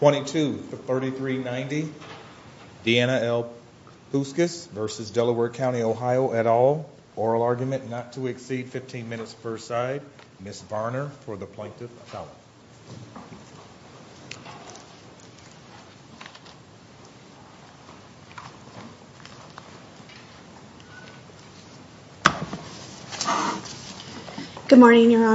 22-3390 Deanna L. Puskas v. Delaware County OH et al. Oral argument not to exceed 15 minutes per side. Ms. Varner for the Plaintiff's Counsel. Good morning, Your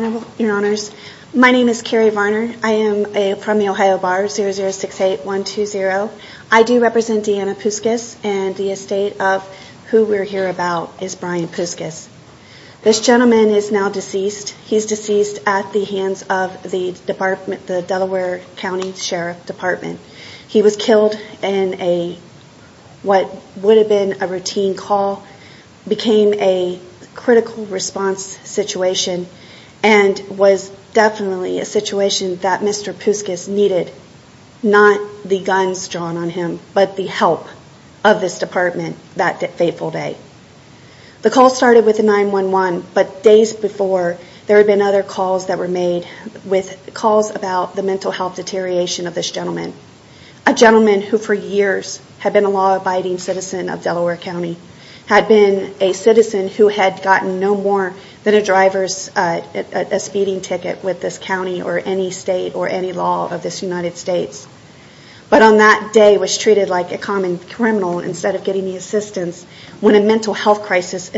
Honors. My name is Carrie Varner. I am from the Ohio Bar 0068120. I do represent Deanna Puskas and the estate of who we're here about is Brian Puskas. This gentleman is now deceased. He's deceased at the hands of the Delaware County Sheriff's Department. He was killed in what would have been a routine call. It became a critical response situation and was definitely a situation that Mr. Puskas needed not the guns drawn on him but the help of this department that fateful day. The call started with a 911 but days before there had been other calls that were made with calls about the mental health deterioration of this gentleman. A gentleman who for years had been a law-abiding citizen of Delaware County had been a citizen who had gotten no more than a driver's speeding ticket with this county or any state or any law of this United States. But on that day was treated like a common criminal instead of getting the assistance when a mental health crisis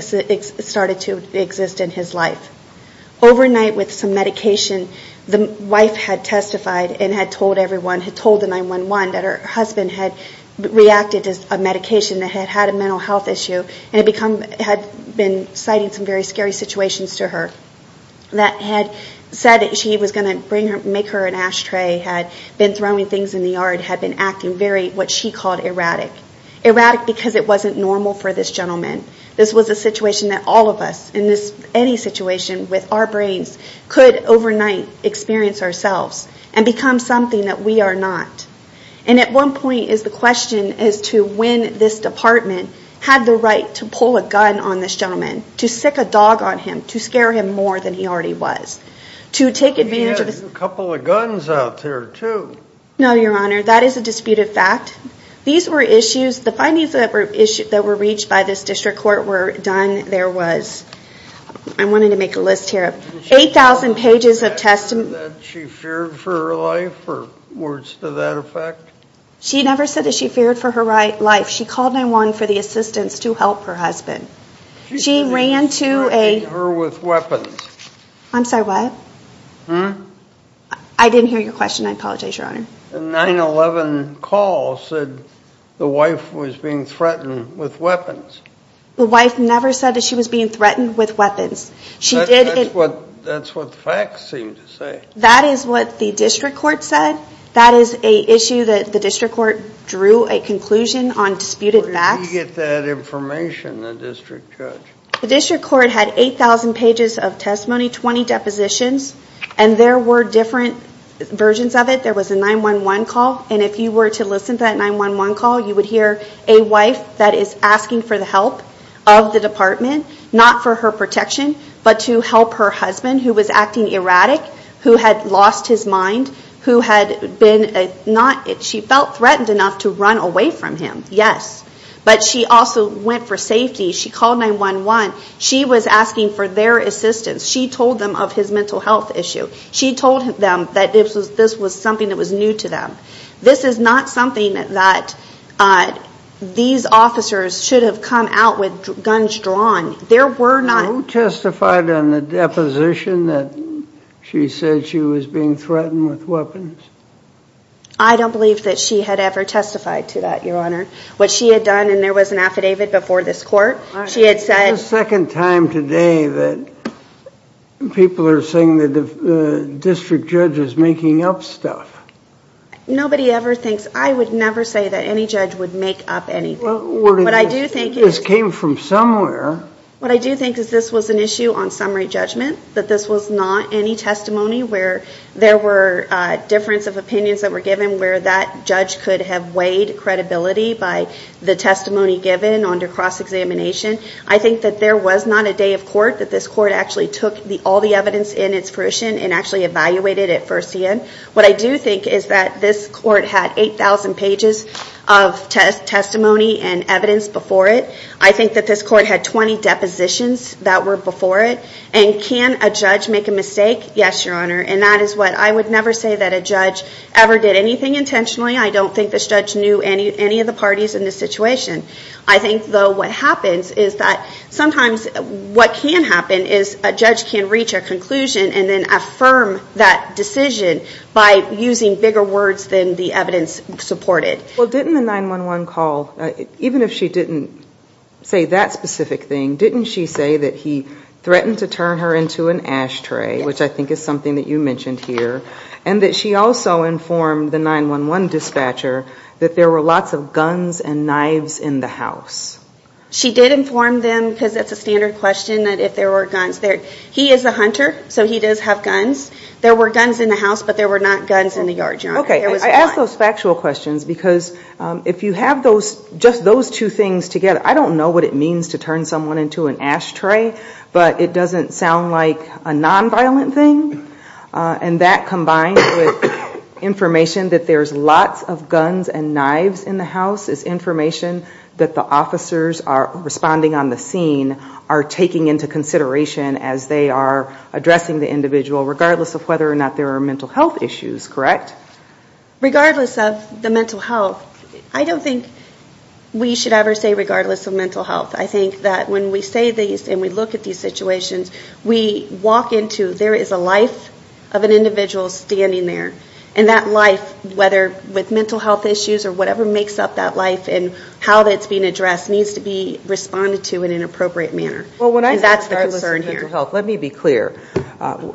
started to exist in his life. Overnight with some medication, the wife had testified and had told everyone, had told the 911 that her husband had reacted to a medication that had had a mental health issue and had been citing some very scary situations to her. That had said that she was going to make her an ashtray, had been throwing things in the yard, had been acting what she called erratic. Erratic because it wasn't normal for this gentleman. This was a situation that all of us in any situation with our brains could overnight experience ourselves and become something that we are not. And at one point is the question as to when this department had the right to pull a gun on this gentleman, to stick a dog on him, to scare him more than he already was. To take advantage of this. He had a couple of guns out there too. No your honor, that is a disputed fact. These were issues, the findings that were reached by this district court were done, there was, I'm wanting to make a list here, 8,000 pages of testimony. She never said that she feared for her life or words to that effect. She never said that she feared for her life. She called 911 for the assistance to help her husband. She ran to a... She threatened her with weapons. I'm sorry what? Hmm? I didn't hear your question, I apologize your honor. The 911 call said the wife was being threatened with weapons. The wife never said that she was being threatened with weapons. That's what the facts seem to say. That is what the district court said. That is an issue that the district court drew a conclusion on disputed facts. Where did we get that information, the district judge? The district court had 8,000 pages of testimony, 20 depositions. And there were different versions of it. There was a 911 call. And if you were to listen to that 911 call, you would hear a wife that is asking for the help of the department, not for her protection, but to help her husband who was acting erratic, who had lost his mind, who had been not... She felt threatened enough to run away from him, yes. But she also went for safety. She called 911. She was asking for their assistance. She told them of his mental health issue. She told them that this was something that was new to them. This is not something that these officers should have come out with guns drawn. There were not... Who testified on the deposition that she said she was being threatened with weapons? I don't believe that she had ever testified to that, Your Honor. What she had done, and there was an affidavit before this court, she had said... that people are saying that the district judge is making up stuff. Nobody ever thinks... I would never say that any judge would make up anything. What I do think is... This came from somewhere. What I do think is this was an issue on summary judgment, that this was not any testimony where there were difference of opinions that were given where that judge could have weighed credibility by the testimony given under cross-examination. I think that there was not a day of court that this court actually took all the evidence in its fruition and actually evaluated it first hand. What I do think is that this court had 8,000 pages of testimony and evidence before it. I think that this court had 20 depositions that were before it. And can a judge make a mistake? Yes, Your Honor. And that is what... I would never say that a judge ever did anything intentionally. I don't think this judge knew any of the parties in this situation. I think, though, what happens is that sometimes what can happen is a judge can reach a conclusion and then affirm that decision by using bigger words than the evidence supported. Well, didn't the 911 call... Even if she didn't say that specific thing, didn't she say that he threatened to turn her into an ashtray, which I think is something that you mentioned here, and that she also informed the 911 dispatcher that there were lots of guns and knives in the house? She did inform them because it's a standard question that if there were guns there. He is a hunter, so he does have guns. There were guns in the house, but there were not guns in the yard, Your Honor. Okay, I ask those factual questions because if you have just those two things together, I don't know what it means to turn someone into an ashtray, but it doesn't sound like a nonviolent thing. And that combined with information that there's lots of guns and knives in the house is information that the officers responding on the scene are taking into consideration as they are addressing the individual, regardless of whether or not there are mental health issues, correct? Regardless of the mental health. I don't think we should ever say regardless of mental health. I think that when we say these and we look at these situations, we walk into there is a life of an individual standing there, and that life, whether with mental health issues or whatever makes up that life and how that's being addressed, needs to be responded to in an appropriate manner. And that's the concern here. Well, when I say mental health, let me be clear.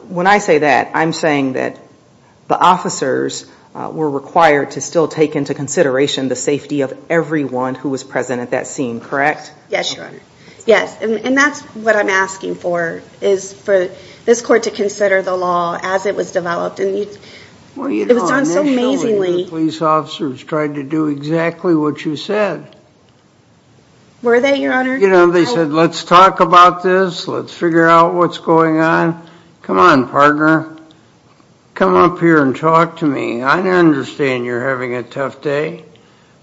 When I say that, I'm saying that the officers were required to still take into consideration the safety of everyone who was present at that scene, correct? Yes, Your Honor. Yes, and that's what I'm asking for, is for this court to consider the law as it was developed. It was done so amazingly. The police officers tried to do exactly what you said. Were they, Your Honor? They said, let's talk about this, let's figure out what's going on. Come on, partner. Come up here and talk to me. I understand you're having a tough day.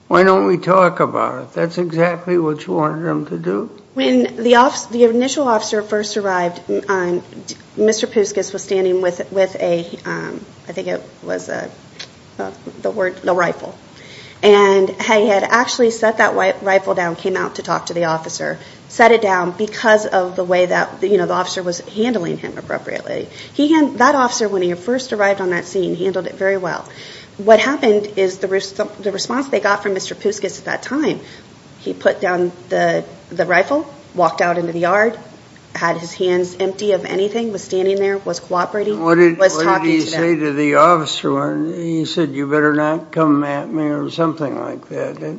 Why don't we talk about it? That's exactly what you wanted them to do? When the initial officer first arrived, Mr. Pouskas was standing with a, I think it was the word, the rifle. And he had actually set that rifle down, came out to talk to the officer, set it down because of the way that the officer was handling him appropriately. That officer, when he first arrived on that scene, handled it very well. What happened is the response they got from Mr. Pouskas at that time, he put down the rifle, walked out into the yard, had his hands empty of anything, was standing there, was cooperating, was talking to them. What did he say to the officer? He said, you better not come at me or something like that.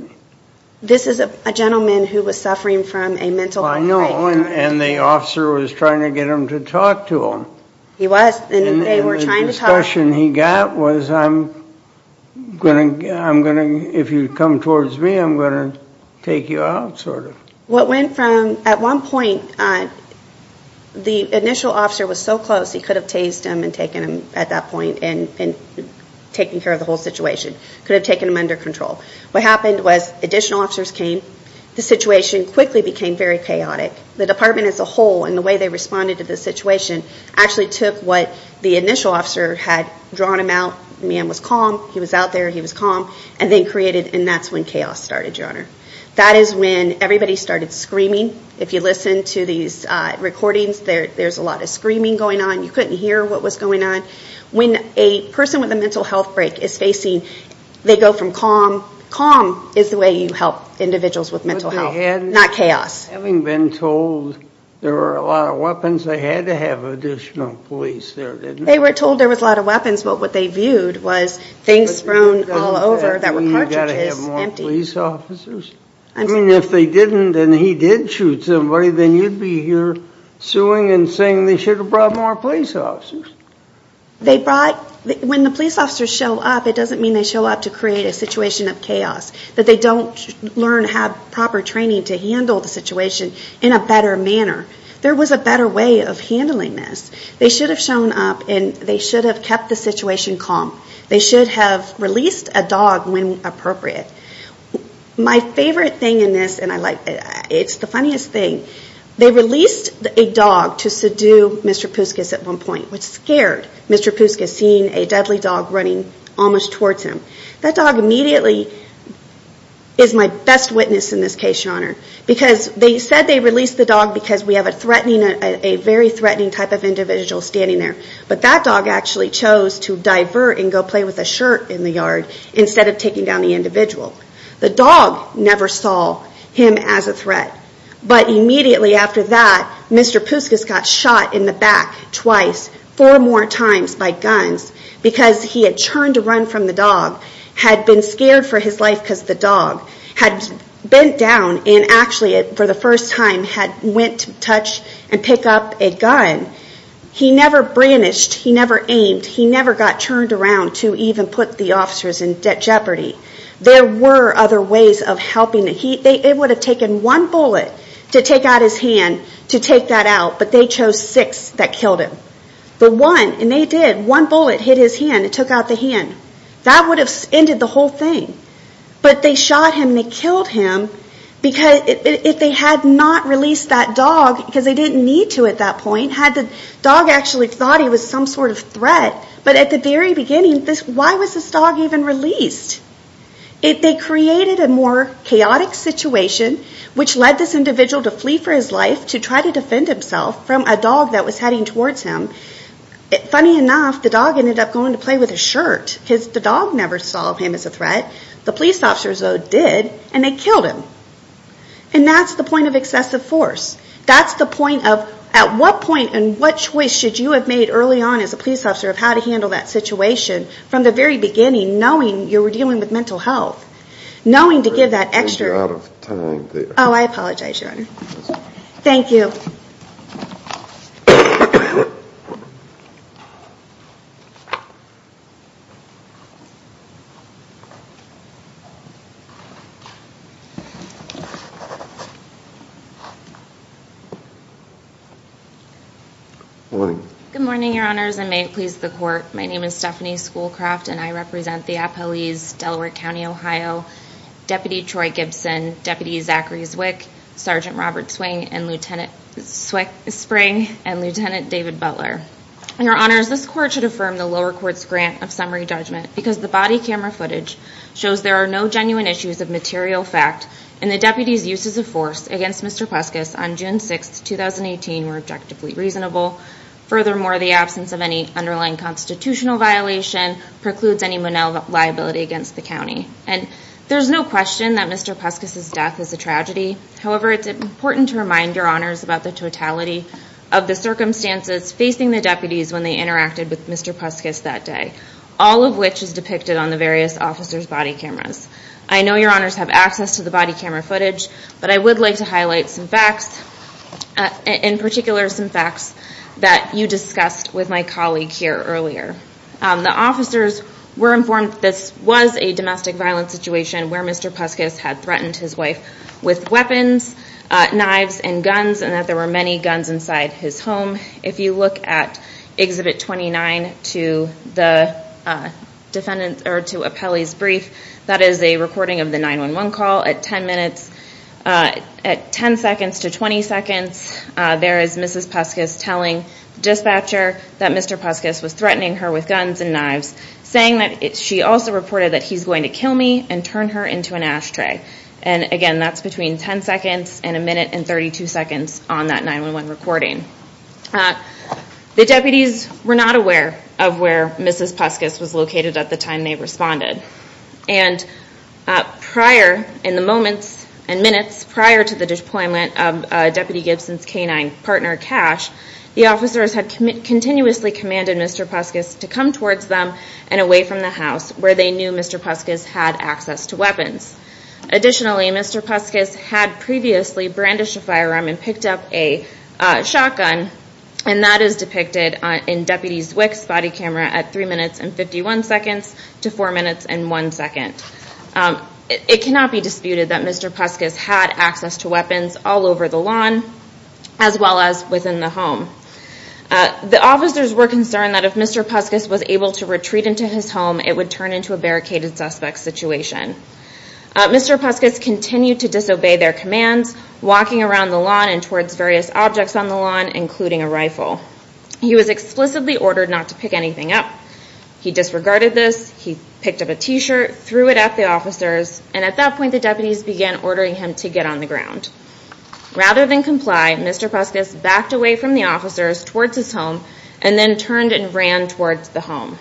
This is a gentleman who was suffering from a mental outbreak. I know, and the officer was trying to get him to talk to him. He was, and they were trying to talk. The impression he got was I'm going to, if you come towards me, I'm going to take you out sort of. What went from, at one point, the initial officer was so close, he could have tased him and taken him at that point and taken care of the whole situation, could have taken him under control. What happened was additional officers came. The situation quickly became very chaotic. The department as a whole and the way they responded to the situation actually took what the initial officer had drawn him out. The man was calm. He was out there. He was calm, and then created, and that's when chaos started, Your Honor. That is when everybody started screaming. If you listen to these recordings, there's a lot of screaming going on. You couldn't hear what was going on. When a person with a mental outbreak is facing, they go from calm. Calm is the way you help individuals with mental health, not chaos. Having been told there were a lot of weapons, they had to have additional police there, didn't they? They were told there was a lot of weapons, but what they viewed was things thrown all over that were cartridges, empty. You've got to have more police officers. I mean, if they didn't and he did shoot somebody, then you'd be here suing and saying they should have brought more police officers. When the police officers show up, it doesn't mean they show up to create a situation of chaos, that they don't learn to have proper training to handle the situation in a better manner. There was a better way of handling this. They should have shown up, and they should have kept the situation calm. They should have released a dog when appropriate. My favorite thing in this, and it's the funniest thing, they released a dog to subdue Mr. Pouskas at one point, which scared Mr. Pouskas, seeing a deadly dog running almost towards him. That dog immediately is my best witness in this case, Your Honor, because they said they released the dog because we have a very threatening type of individual standing there, but that dog actually chose to divert and go play with a shirt in the yard instead of taking down the individual. The dog never saw him as a threat, but immediately after that, Mr. Pouskas got shot in the back twice, four more times by guns, because he had turned to run from the dog, had been scared for his life because the dog had bent down and actually, for the first time, had went to touch and pick up a gun. He never brandished, he never aimed, he never got turned around to even put the officers in jeopardy. There were other ways of helping. It would have taken one bullet to take out his hand, to take that out, but they chose six that killed him. But one, and they did, one bullet hit his hand and took out the hand. That would have ended the whole thing. But they shot him and they killed him, because if they had not released that dog, because they didn't need to at that point, had the dog actually thought he was some sort of threat, but at the very beginning, why was this dog even released? They created a more chaotic situation, which led this individual to flee for his life, to try to defend himself from a dog that was heading towards him. Funny enough, the dog ended up going to play with his shirt, because the dog never saw him as a threat. The police officers, though, did, and they killed him. And that's the point of excessive force. That's the point of at what point and what choice should you have made early on as a police officer of how to handle that situation from the very beginning, knowing you were dealing with mental health, knowing to give that extra... Oh, I apologize, Your Honor. Thank you. Morning. Good morning, Your Honors, and may it please the Court. My name is Stephanie Schoolcraft, and I represent the appellees Delaware County, Ohio, Deputy Troy Gibson, Deputy Zachary Zwick, Sergeant Robert Swing, and Lieutenant David Butler. Your Honors, this Court should affirm the lower court's grant of summary judgment, because the body camera footage shows there are no genuine issues of material fact, and the deputies' uses of force against Mr. Peskis on June 6, 2018, were objectively reasonable. Furthermore, the absence of any underlying constitutional violation precludes any liability against the county. And there's no question that Mr. Peskis' death is a tragedy. However, it's important to remind Your Honors about the totality of the circumstances facing the deputies when they interacted with Mr. Peskis that day, all of which is depicted on the various officers' body cameras. I know Your Honors have access to the body camera footage, but I would like to highlight some facts, in particular some facts that you discussed with my colleague here earlier. The officers were informed that this was a domestic violence situation where Mr. Peskis had threatened his wife with weapons, knives, and guns, and that there were many guns inside his home. If you look at Exhibit 29 to Apelli's brief, that is a recording of the 911 call. At 10 seconds to 20 seconds, there is Mrs. Peskis telling the dispatcher that Mr. Peskis was threatening her with guns and knives, saying that she also reported that he's going to kill me and turn her into an ashtray. And again, that's between 10 seconds and a minute and 32 seconds on that 911 recording. The deputies were not aware of where Mrs. Peskis was located at the time they responded. And prior, in the moments and minutes prior to the deployment of Deputy Gibson's canine partner, Cash, the officers had continuously commanded Mr. Peskis to come towards them and away from the house where they knew Mr. Peskis had access to weapons. Additionally, Mr. Peskis had previously brandished a firearm and picked up a shotgun, and that is depicted in Deputy Zwick's body camera at 3 minutes and 51 seconds to 4 minutes and 1 second. It cannot be disputed that Mr. Peskis had access to weapons all over the lawn, as well as within the home. The officers were concerned that if Mr. Peskis was able to retreat into his home, it would turn into a barricaded suspect situation. Mr. Peskis continued to disobey their commands, walking around the lawn and towards various objects on the lawn, including a rifle. He was explicitly ordered not to pick anything up. He disregarded this, he picked up a T-shirt, threw it at the officers, and at that point the deputies began ordering him to get on the ground. Rather than comply, Mr. Peskis backed away from the officers towards his home, and then turned and ran towards the home.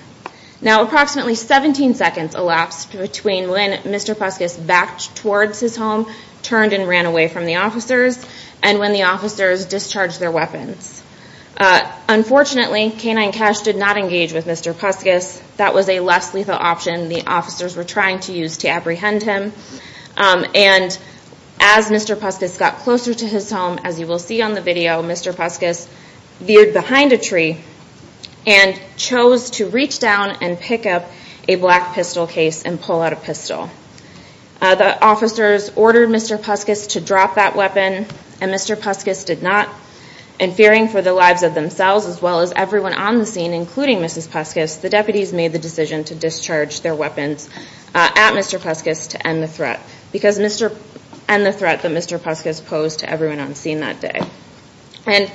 Now approximately 17 seconds elapsed between when Mr. Peskis backed towards his home, turned and ran away from the officers, and when the officers discharged their weapons. Unfortunately, K-9 Cash did not engage with Mr. Peskis. That was a less lethal option the officers were trying to use to apprehend him. And as Mr. Peskis got closer to his home, as you will see on the video, Mr. Peskis veered behind a tree and chose to reach down and pick up a black pistol case and pull out a pistol. The officers ordered Mr. Peskis to drop that weapon, and Mr. Peskis did not. And fearing for the lives of themselves as well as everyone on the scene, including Mrs. Peskis, the deputies made the decision to discharge their weapons at Mr. Peskis to end the threat, because Mr. Peskis posed to everyone on the scene that day. And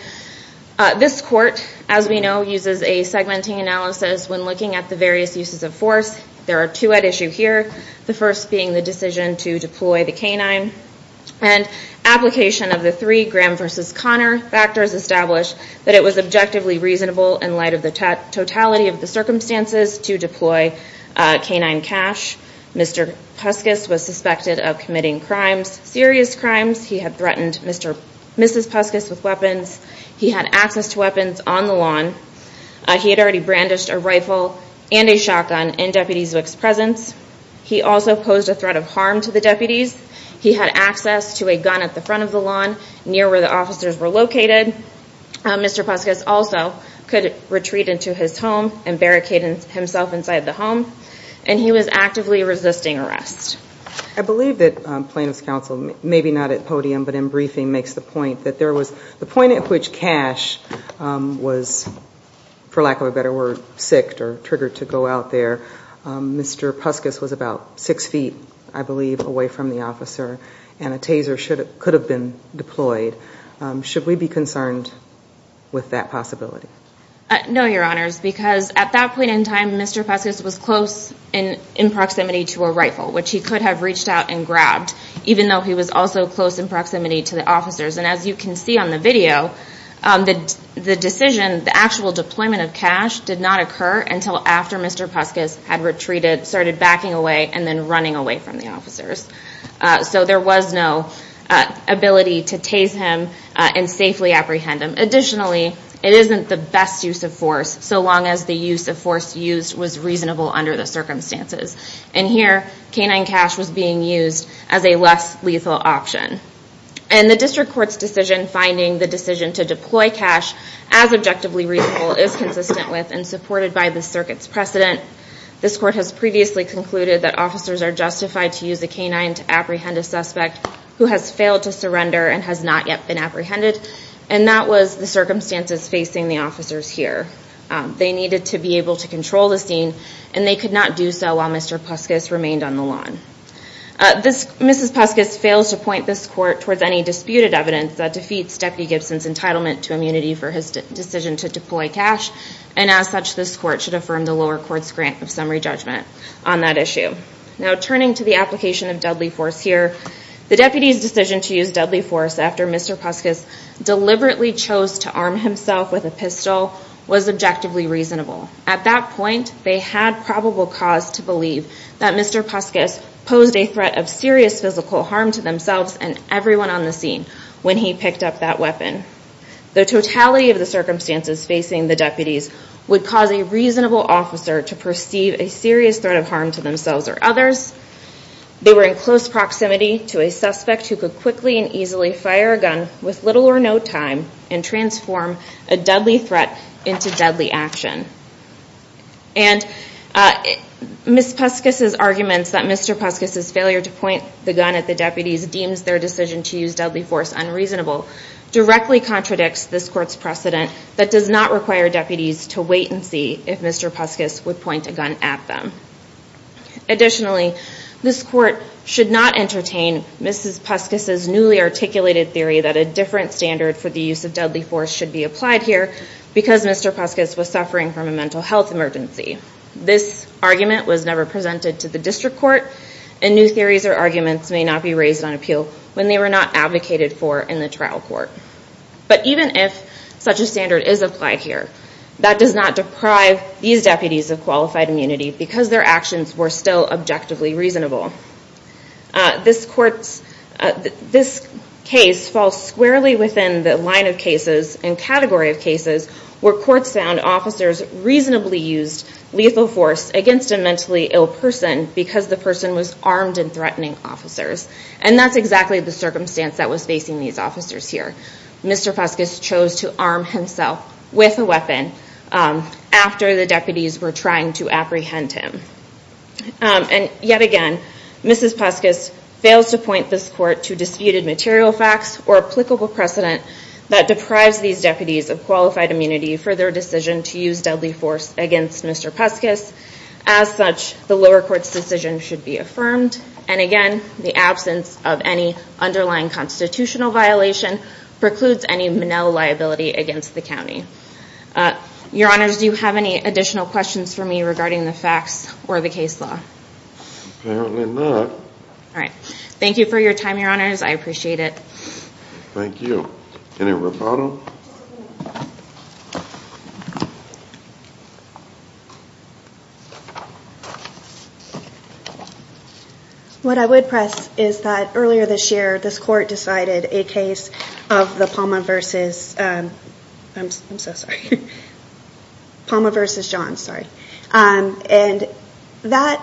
this court, as we know, uses a segmenting analysis when looking at the various uses of force. There are two at issue here, the first being the decision to deploy the K-9, and application of the three Graham v. Connor factors establish that it was objectively reasonable, in light of the totality of the circumstances, to deploy K-9 cache. Mr. Peskis was suspected of committing crimes, serious crimes. He had threatened Mrs. Peskis with weapons. He had access to weapons on the lawn. He had already brandished a rifle and a shotgun in Deputy Zwick's presence. He also posed a threat of harm to the deputies. He had access to a gun at the front of the lawn, near where the officers were located. Mr. Peskis also could retreat into his home and barricade himself inside the home. And he was actively resisting arrest. I believe that plaintiff's counsel, maybe not at podium, but in briefing, makes the point that there was the point at which cache was, for lack of a better word, sicked or triggered to go out there. Mr. Peskis was about six feet, I believe, away from the officer, and a taser could have been deployed. Should we be concerned with that possibility? No, Your Honors, because at that point in time, Mr. Peskis was close in proximity to a rifle, which he could have reached out and grabbed, even though he was also close in proximity to the officers. And as you can see on the video, the decision, the actual deployment of cache, did not occur until after Mr. Peskis had retreated, started backing away, and then running away from the officers. So there was no ability to tase him and safely apprehend him. Additionally, it isn't the best use of force, so long as the use of force used was reasonable under the circumstances. And here, canine cache was being used as a less lethal option. And the district court's decision, finding the decision to deploy cache as objectively reasonable, is consistent with and supported by the circuit's precedent. This court has previously concluded that officers are justified to use a canine to apprehend a suspect who has failed to surrender and has not yet been apprehended, and that was the circumstances facing the officers here. They needed to be able to control the scene, and they could not do so while Mr. Peskis remained on the lawn. Mrs. Peskis fails to point this court towards any disputed evidence that defeats Deputy Gibson's entitlement to immunity for his decision to deploy cache, and as such, this court should affirm the lower court's grant of summary judgment on that issue. Now, turning to the application of deadly force here, the deputy's decision to use deadly force after Mr. Peskis deliberately chose to arm himself with a pistol was objectively reasonable. At that point, they had probable cause to believe that Mr. Peskis posed a threat of serious physical harm to themselves and everyone on the scene when he picked up that weapon. The totality of the circumstances facing the deputies would cause a reasonable officer to perceive a serious threat of harm to themselves or others. They were in close proximity to a suspect who could quickly and easily fire a gun with little or no time and transform a deadly threat into deadly action. And Mrs. Peskis's arguments that Mr. Peskis's failure to point the gun at the deputies deems their decision to use deadly force unreasonable directly contradicts this court's precedent that does not require deputies to wait and see if Mr. Peskis would point a gun at them. Additionally, this court should not entertain Mrs. Peskis's newly articulated theory that a different standard for the use of deadly force should be applied here because Mr. Peskis was suffering from a mental health emergency. This argument was never presented to the district court, and new theories or arguments may not be raised on appeal when they were not advocated for in the trial court. But even if such a standard is applied here, that does not deprive these deputies of qualified immunity because their actions were still objectively reasonable. This case falls squarely within the line of cases and category of cases where courts found officers reasonably used lethal force against a mentally ill person because the person was armed and threatening officers. And that's exactly the circumstance that was facing these officers here. Mr. Peskis chose to arm himself with a weapon after the deputies were trying to apprehend him. And yet again, Mrs. Peskis fails to point this court to disputed material facts or applicable precedent that deprives these deputies of qualified immunity for their decision to use deadly force against Mr. Peskis. As such, the lower court's decision should be affirmed. And again, the absence of any underlying constitutional violation Your Honors, do you have any additional questions for me regarding the facts or the case law? Apparently not. All right. Thank you for your time, Your Honors. I appreciate it. Thank you. Any rebuttal? What I would press is that earlier this year, this court decided a case of the Palmer versus I'm so sorry, Palmer versus Johns, sorry. And that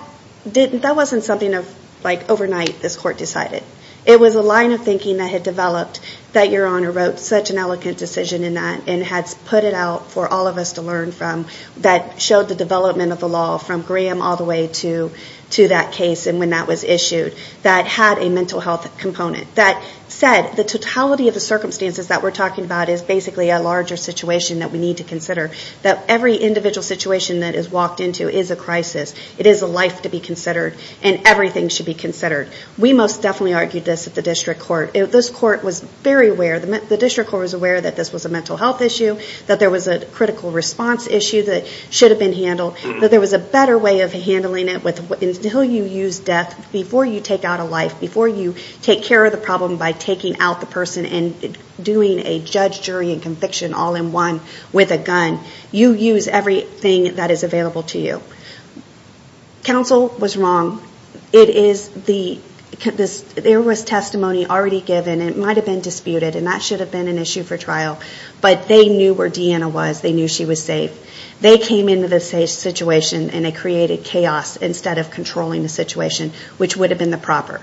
wasn't something of like overnight this court decided. It was a line of thinking that had developed that Your Honor wrote such an elegant decision in that and had put it out for all of us to learn from that showed the development of the law from Graham all the way to that case and when that was issued that had a mental health component that said the totality of the circumstances that we're talking about is basically a larger situation that we need to consider, that every individual situation that is walked into is a crisis. It is a life to be considered and everything should be considered. We most definitely argued this at the district court. This court was very aware, the district court was aware that this was a mental health issue, that there was a critical response issue that should have been handled, that there was a better way of handling it until you use death before you take out a life, before you take care of the problem by taking out the person and doing a judge, jury and conviction all in one with a gun. You use everything that is available to you. Counsel was wrong. It is the, there was testimony already given and it might have been disputed and that should have been an issue for trial, but they knew where Deanna was. They knew she was safe. They came into the situation and they created chaos instead of controlling the situation, which would have been the proper.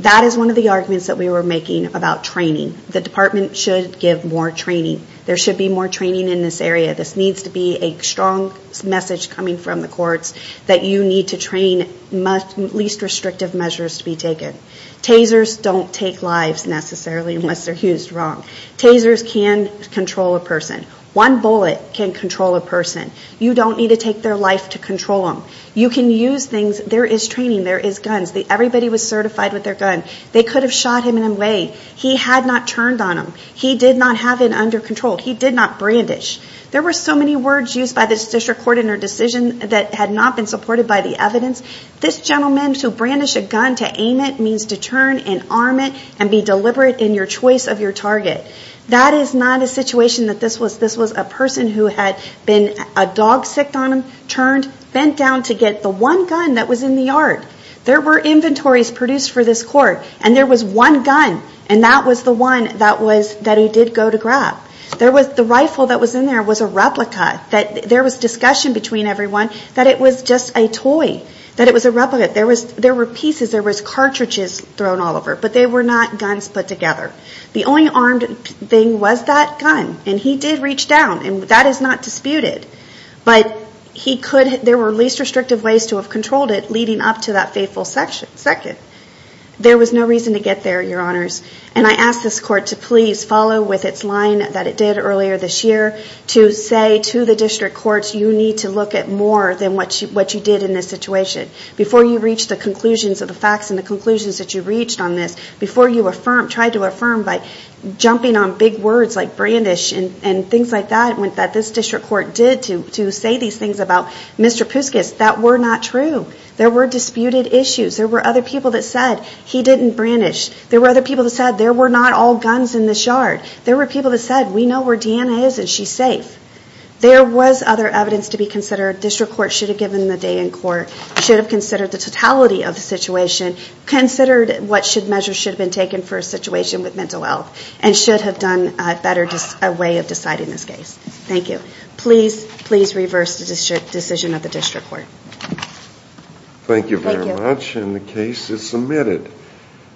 That is one of the arguments that we were making about training. The department should give more training. There should be more training in this area. This needs to be a strong message coming from the courts that you need to train least restrictive measures to be taken. Tasers don't take lives necessarily unless they're used wrong. Tasers can control a person. One bullet can control a person. You don't need to take their life to control them. You can use things. There is training. There is guns. Everybody was certified with their gun. They could have shot him in a way. He had not turned on him. He did not have it under control. He did not brandish. There were so many words used by the district court in their decision that had not been supported by the evidence. This gentleman to brandish a gun to aim it means to turn and arm it and be deliberate in your choice of your target. That is not a situation that this was a person who had been a dog sick on him, turned, bent down to get the one gun that was in the yard. There were inventories produced for this court, and there was one gun, and that was the one that he did go to grab. The rifle that was in there was a replica. There was discussion between everyone that it was just a toy, that it was a replica. There were pieces. There were cartridges thrown all over, but they were not guns put together. The only armed thing was that gun, and he did reach down, and that is not disputed. But there were least restrictive ways to have controlled it leading up to that faithful second. There was no reason to get there, Your Honors, and I ask this court to please follow with its line that it did earlier this year to say to the district courts, you need to look at more than what you did in this situation. Before you reach the conclusions of the facts and the conclusions that you reached on this, before you try to affirm by jumping on big words like brandish and things like that that this district court did to say these things about Mr. Puskas, that were not true. There were disputed issues. There were other people that said he didn't brandish. There were other people that said there were not all guns in the shard. There were people that said we know where Deanna is and she's safe. There was other evidence to be considered. District courts should have given the day in court, should have considered the totality of the situation, considered what measures should have been taken for a situation with mental health, and should have done a better way of deciding this case. Thank you. Please reverse the decision of the district court. Thank you very much, and the case is submitted.